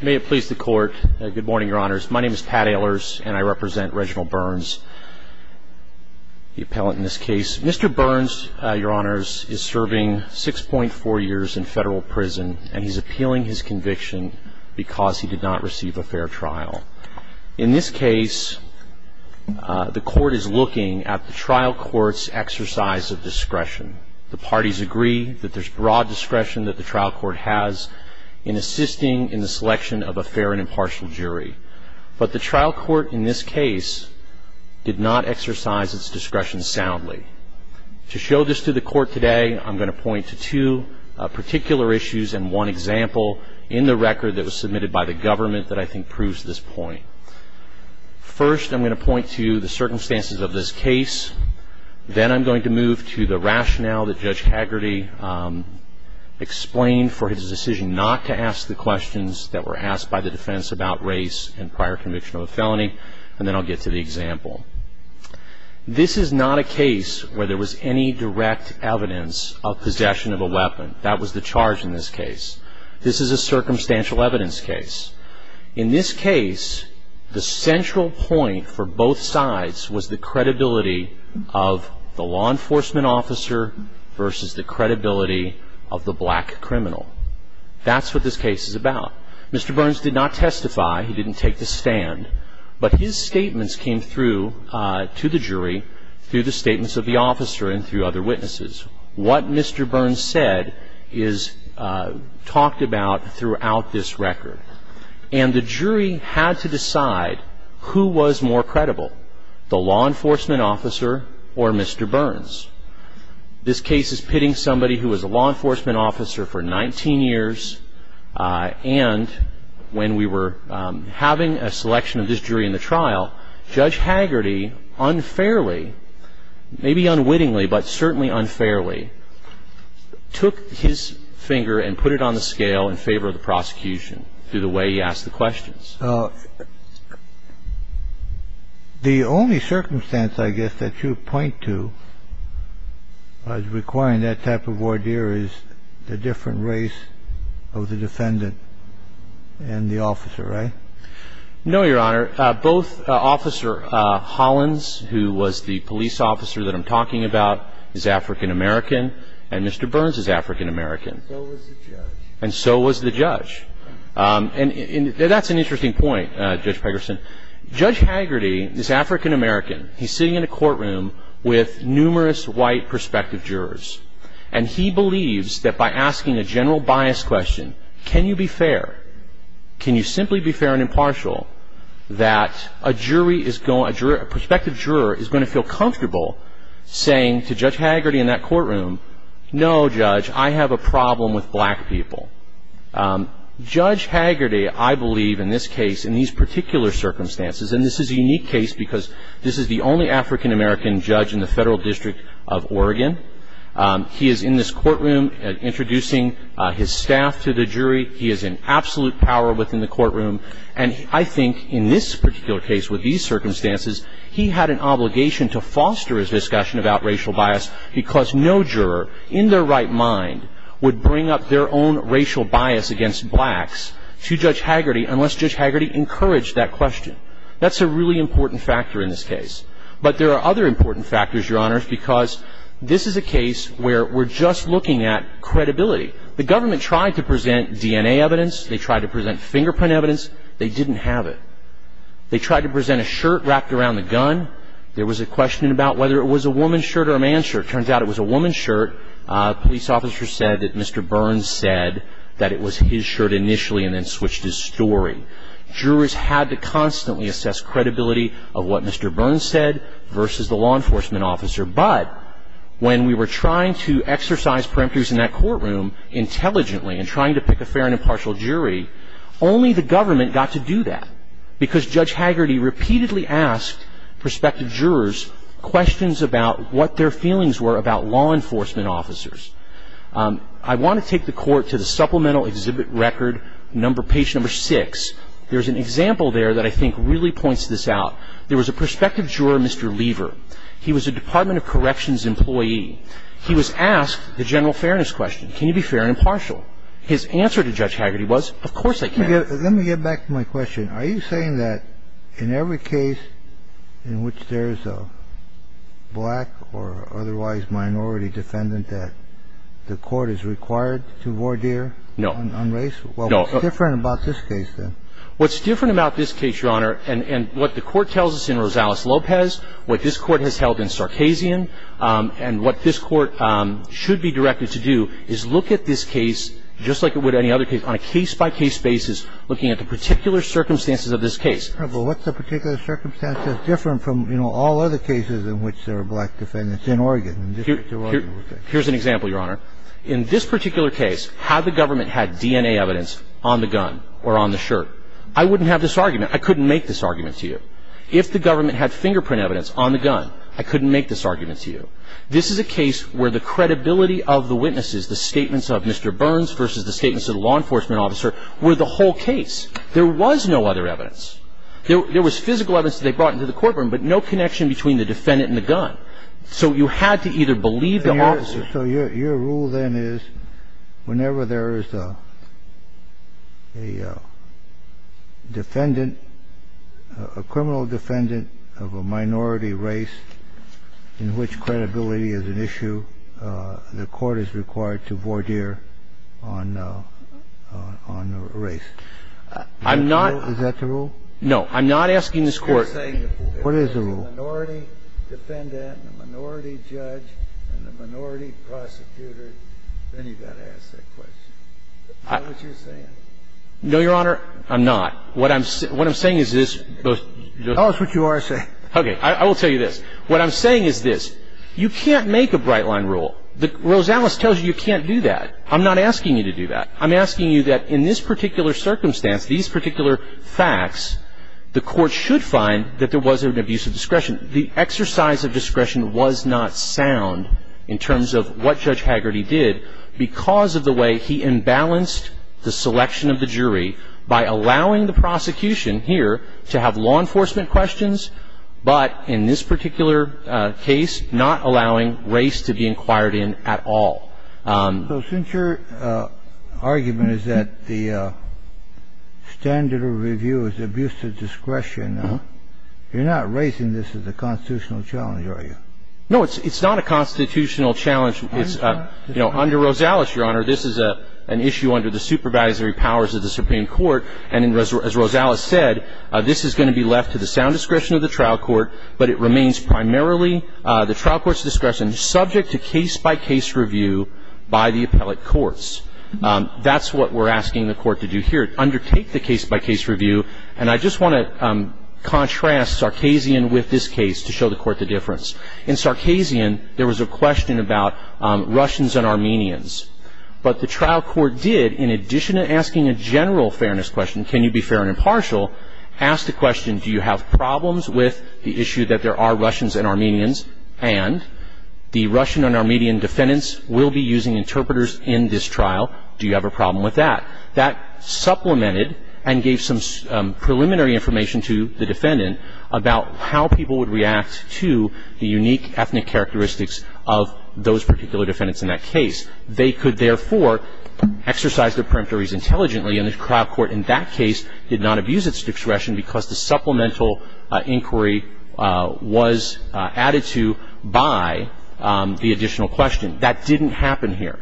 May it please the court. Good morning, Your Honors. My name is Pat Ehlers and I represent Reginald Burns, the appellant in this case. Mr. Burns, Your Honors, is serving 6.4 years in federal prison and he's appealing his conviction because he did not receive a fair trial. In this case, the court is looking at the trial court's exercise of discretion. The parties agree that there's broad discretion that the trial court has in assisting in the selection of a fair and impartial jury. But the trial court in this case did not exercise its discretion soundly. To show this to the court today, I'm going to point to two particular issues and one example in the record that was submitted by the government that I think proves this point. First, I'm going to point to the circumstances of this case. Then I'm going to move to the rationale that Judge Haggerty explained for his decision not to ask the questions that were asked by the defense about race and prior conviction of a felony. And then I'll get to the example. This is not a case where there was any direct evidence of possession of a weapon. That was the charge in this case. This is a circumstantial evidence case. In this case, the central point for both sides was the credibility of the law enforcement officer versus the credibility of the black criminal. That's what this case is about. Mr. Burns did not testify. He didn't take the stand. But his statements came through to the jury through the statements of the officer and through other witnesses. What Mr. Burns said is talked about throughout this record. And the jury had to decide who was more credible, the law enforcement officer or Mr. Burns. This case is pitting somebody who was a law enforcement officer for 19 years and when we were having a selection of this jury in the trial, Judge Haggerty unfairly, maybe unwittingly, but certainly unfairly, took his finger and put it on the scale in favor of the prosecution through the way he asked the questions. The only circumstance, I guess, that you point to as requiring that type of voir dire is the different race of the defendant and the officer, right? No, Your Honor. Both Officer Hollins, who was the police officer that I'm talking about, is African American, and Mr. Burns is African American. And so was the judge. And that's an interesting point, Judge Pegerson. Judge Haggerty is African American. He's sitting in a courtroom with numerous white prospective jurors. And he believes that by asking a general bias question, can you be fair, can you simply be fair and impartial, that a prospective juror is going to feel comfortable saying to Judge Haggerty in that courtroom, no, Judge, I have a problem with black people. Judge Haggerty, I believe, in this case, in these particular circumstances, and this is a unique case because this is the only African American judge in the Federal District of Oregon. He is in this courtroom introducing his staff to the jury. He is in absolute power within the courtroom. And I think in this particular case, with these circumstances, he had an obligation to foster his discussion about racial bias because no juror, in their right mind, would bring up their own racial bias against blacks to Judge Haggerty unless Judge Haggerty encouraged that question. That's a really important factor in this case. But there are other important factors, Your Honors, because this is a case where we're just looking at credibility. The government tried to present DNA evidence. They tried to present fingerprint evidence. They didn't have it. They tried to present a shirt wrapped around the gun. There was a question about whether it was a woman's shirt or a man's shirt. It turns out it was a woman's shirt. Police officers said that Mr. Burns said that it was his shirt initially and then switched his story. Jurors had to constantly assess credibility of what Mr. Burns said versus the law enforcement officer. But when we were trying to exercise perimeters in that courtroom intelligently and trying to pick a fair and impartial jury, only the government got to do that because Judge Haggerty repeatedly asked prospective jurors questions about what their feelings were about law enforcement officers. I want to take the Court to the Supplemental Exhibit Record, page number six. There's an example there that I think really points this out. There was a prospective juror, Mr. Lever. He was a Department of Corrections employee. He was asked the general fairness question. Can you be fair and impartial? His answer to Judge Haggerty was, of course I can. Let me get back to my question. Are you saying that in every case in which there is a black or otherwise minority defendant, that the Court is required to voir dire on race? No. Well, what's different about this case, then? What's different about this case, Your Honor, and what the Court tells us in Rosales-Lopez, what this Court has held in Sarkazian, and what this Court should be directed to do is look at this case, just like it would any other case, on a case-by-case basis, looking at the particular circumstances of this case. Well, what's the particular circumstances different from, you know, all other cases in which there are black defendants in Oregon? Here's an example, Your Honor. In this particular case, had the government had DNA evidence on the gun or on the shirt, I wouldn't have this argument. I couldn't make this argument to you. If the government had fingerprint evidence on the gun, I couldn't make this argument to you. This is a case where the credibility of the witnesses, the statements of Mr. Burns versus the statements of the law enforcement officer, were the whole case. There was no other evidence. There was physical evidence that they brought into the courtroom, but no connection between the defendant and the gun. So you had to either believe the officer. So your rule then is whenever there is a defendant, a criminal defendant of a minority race in which credibility is an issue, the Court is required to voir dire on a race. I'm not. Is that the rule? No. I'm not asking this Court. What is the rule? If you're a minority defendant, a minority judge, and a minority prosecutor, then you've got to ask that question. What are you saying? No, Your Honor. I'm not. What I'm saying is this. Tell us what you are saying. Okay. I will tell you this. What I'm saying is this. You can't make a bright-line rule. Rosales tells you you can't do that. I'm not asking you to do that. I'm asking you that in this particular circumstance, these particular facts, the Court should find that there was an abuse of discretion. The exercise of discretion was not sound in terms of what Judge Haggerty did because of the way he imbalanced the selection of the jury by allowing the prosecution here to have law enforcement questions, but in this particular case, not allowing race to be inquired in at all. So since your argument is that the standard of review is abuse of discretion, you're not raising this as a constitutional challenge, are you? No, it's not a constitutional challenge. It's, you know, under Rosales, Your Honor, this is an issue under the supervisory powers of the Supreme Court, and as Rosales said, this is going to be left to the sound discretion of the trial court, but it remains primarily the trial court's discretion subject to case-by-case review by the appellate courts. That's what we're asking the Court to do here, undertake the case-by-case review, and I just want to contrast Sarkazian with this case to show the Court the difference. In Sarkazian, there was a question about Russians and Armenians, but the trial court did, in addition to asking a general fairness question, can you be fair and impartial, ask the question, do you have problems with the issue that there are the Russian and Armenian defendants will be using interpreters in this trial? Do you have a problem with that? That supplemented and gave some preliminary information to the defendant about how people would react to the unique ethnic characteristics of those particular defendants in that case. They could, therefore, exercise their peremptories intelligently, and the trial court in that case did not abuse its discretion because the supplemental inquiry was added to by the additional question. That didn't happen here.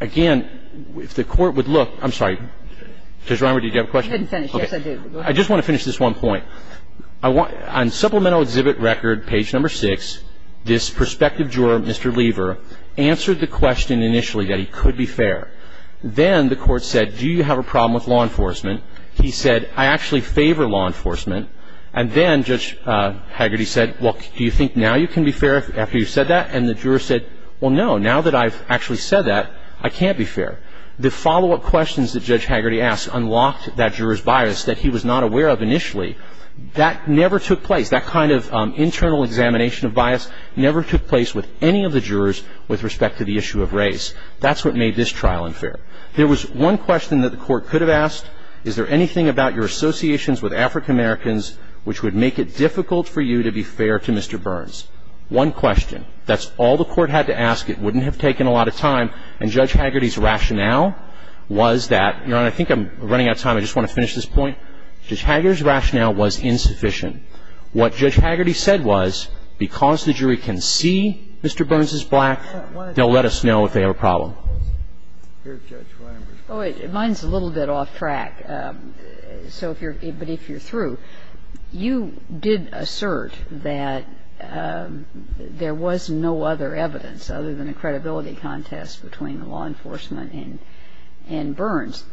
Again, if the Court would look – I'm sorry. Judge Reimer, did you have a question? You didn't finish. Yes, I did. Go ahead. I just want to finish this one point. On supplemental exhibit record, page number 6, this prospective juror, Mr. Lever, answered the question initially that he could be fair. Then the Court said, do you have a problem with law enforcement? He said, I actually favor law enforcement. And then Judge Hagerty said, well, do you think now you can be fair after you've said that? And the juror said, well, no, now that I've actually said that, I can't be fair. The follow-up questions that Judge Hagerty asked unlocked that juror's bias that he was not aware of initially. That never took place. That kind of internal examination of bias never took place with any of the jurors with respect to the issue of race. That's what made this trial unfair. There was one question that the Court could have asked. Is there anything about your associations with African Americans which would make it difficult for you to be fair to Mr. Burns? One question. That's all the Court had to ask. It wouldn't have taken a lot of time. And Judge Hagerty's rationale was that, Your Honor, I think I'm running out of time. I just want to finish this point. Judge Hagerty's rationale was insufficient. What Judge Hagerty said was, because the jury can see Mr. Burns is black, they'll let us know if they have a problem. I'm going to ask a question about the telephone calls. Here, Judge Rember. Mine's a little bit off track. So if you're ‑‑ but if you're through, you did assert that there was no other evidence other than a credibility contest between law enforcement and ‑‑ and Burns.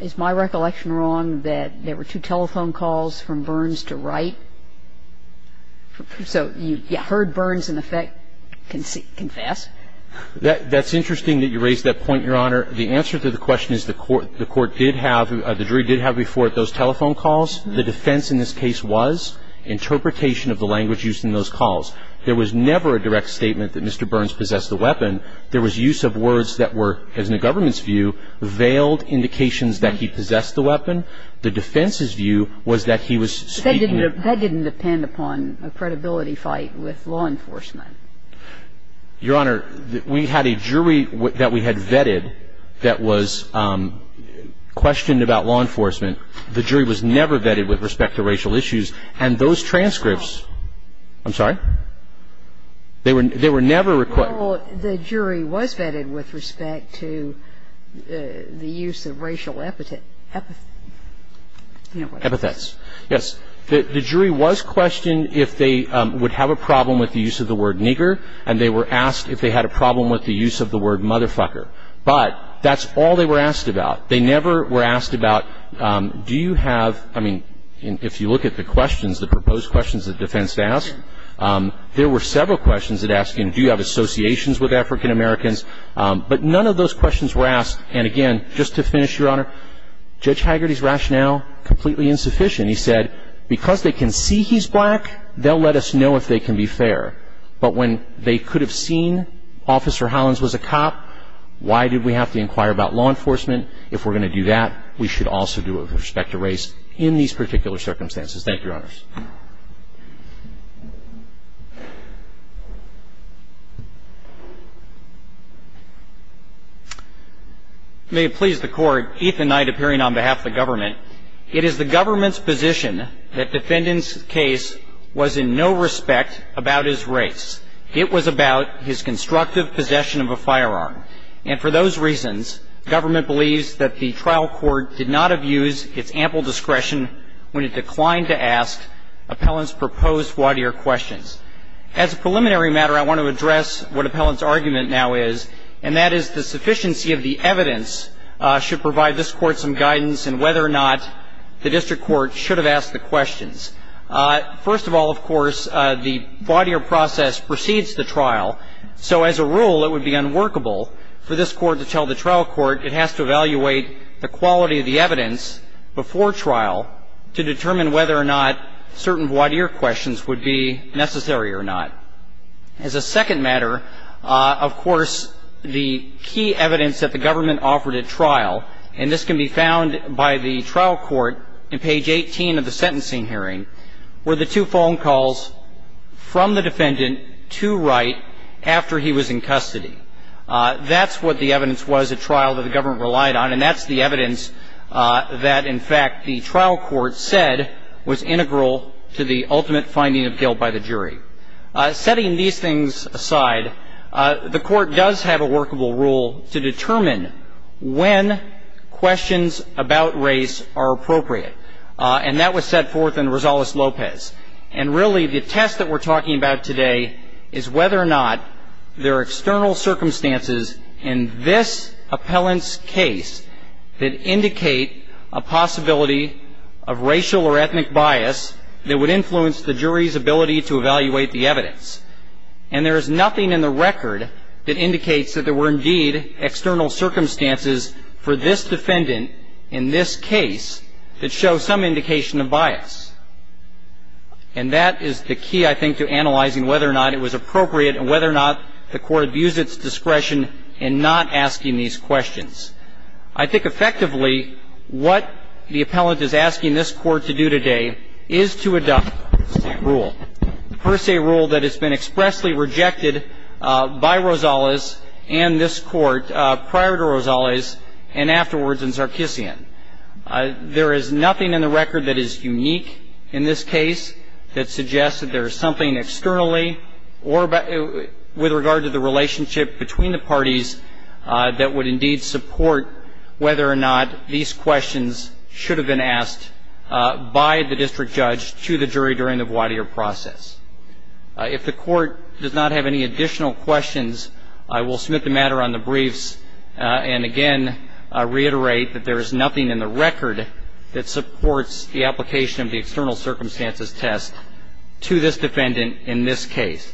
Is my recollection wrong that there were two telephone calls from Burns to Wright? So you heard Burns, in effect, confess? That's interesting that you raise that point, Your Honor. The answer to the question is the court did have ‑‑ the jury did have before it those telephone calls. The defense in this case was interpretation of the language used in those calls. There was never a direct statement that Mr. Burns possessed the weapon. There was use of words that were, as in the government's view, veiled indications that he possessed the weapon. The defense's view was that he was speaking of ‑‑ That didn't depend upon a credibility fight with law enforcement. Your Honor, we had a jury that we had vetted that was questioned about law enforcement. The jury was never vetted with respect to racial issues. And those transcripts ‑‑ I'm sorry? They were never ‑‑ Well, the jury was vetted with respect to the use of racial epithets. Epithets. Yes. The jury was questioned if they would have a problem with the use of the word nigger, and they were asked if they had a problem with the use of the word motherfucker. But that's all they were asked about. They never were asked about do you have ‑‑ I mean, if you look at the questions, the proposed questions the defense asked, there were several questions that asked him, But none of those questions were asked. And again, just to finish, Your Honor, Judge Hagerty's rationale, completely insufficient. He said, because they can see he's black, they'll let us know if they can be fair. But when they could have seen Officer Hollins was a cop, why did we have to inquire about law enforcement? If we're going to do that, we should also do it with respect to race in these particular circumstances. Thank you, Your Honors. May it please the Court. Ethan Knight, appearing on behalf of the government. It is the government's position that defendant's case was in no respect about his race. It was about his constructive possession of a firearm. And for those reasons, government believes that the trial court did not have used its ample discretion when it declined to ask appellant's proposed water year questions. As a preliminary matter, I want to address what appellant's argument now is, and that is the sufficiency of the evidence should provide this Court some guidance in whether or not the district court should have asked the questions. First of all, of course, the voir dire process precedes the trial. So as a rule, it would be unworkable for this Court to tell the trial court it has to evaluate the quality of the evidence before trial to determine whether or not certain voir dire questions would be necessary or not. As a second matter, of course, the key evidence that the government offered at trial, and this can be found by the trial court in page 18 of the sentencing hearing, were the two phone calls from the defendant to Wright after he was in custody. That's what the evidence was at trial that the government relied on, and that's the evidence that, in fact, the trial court said was integral to the ultimate finding of guilt by the jury. Setting these things aside, the Court does have a workable rule to determine when questions about race are appropriate, and that was set forth in Rosales-Lopez. And really the test that we're talking about today is whether or not there are external circumstances in this appellant's case that indicate a possibility of racial or ethnic bias that would influence the jury's ability to evaluate the evidence. And there is nothing in the record that indicates that there were indeed external circumstances for this defendant in this case that show some indication of bias. And that is the key, I think, to analyzing whether or not it was appropriate and whether or not the Court views its discretion in not asking these questions. I think, effectively, what the appellant is asking this Court to do today is to adopt the per se rule, the per se rule that has been expressly rejected by Rosales and this Court prior to Rosales and afterwards in Sarkissian. There is nothing in the record that is unique in this case that suggests that there is something externally or with regard to the relationship between the parties that would indeed support whether or not these questions should have been asked by the district judge to the jury during the voir dire process. If the Court does not have any additional questions, I will submit the matter on the briefs and again reiterate that there is nothing in the record that supports the application of the external circumstances test to this defendant in this case.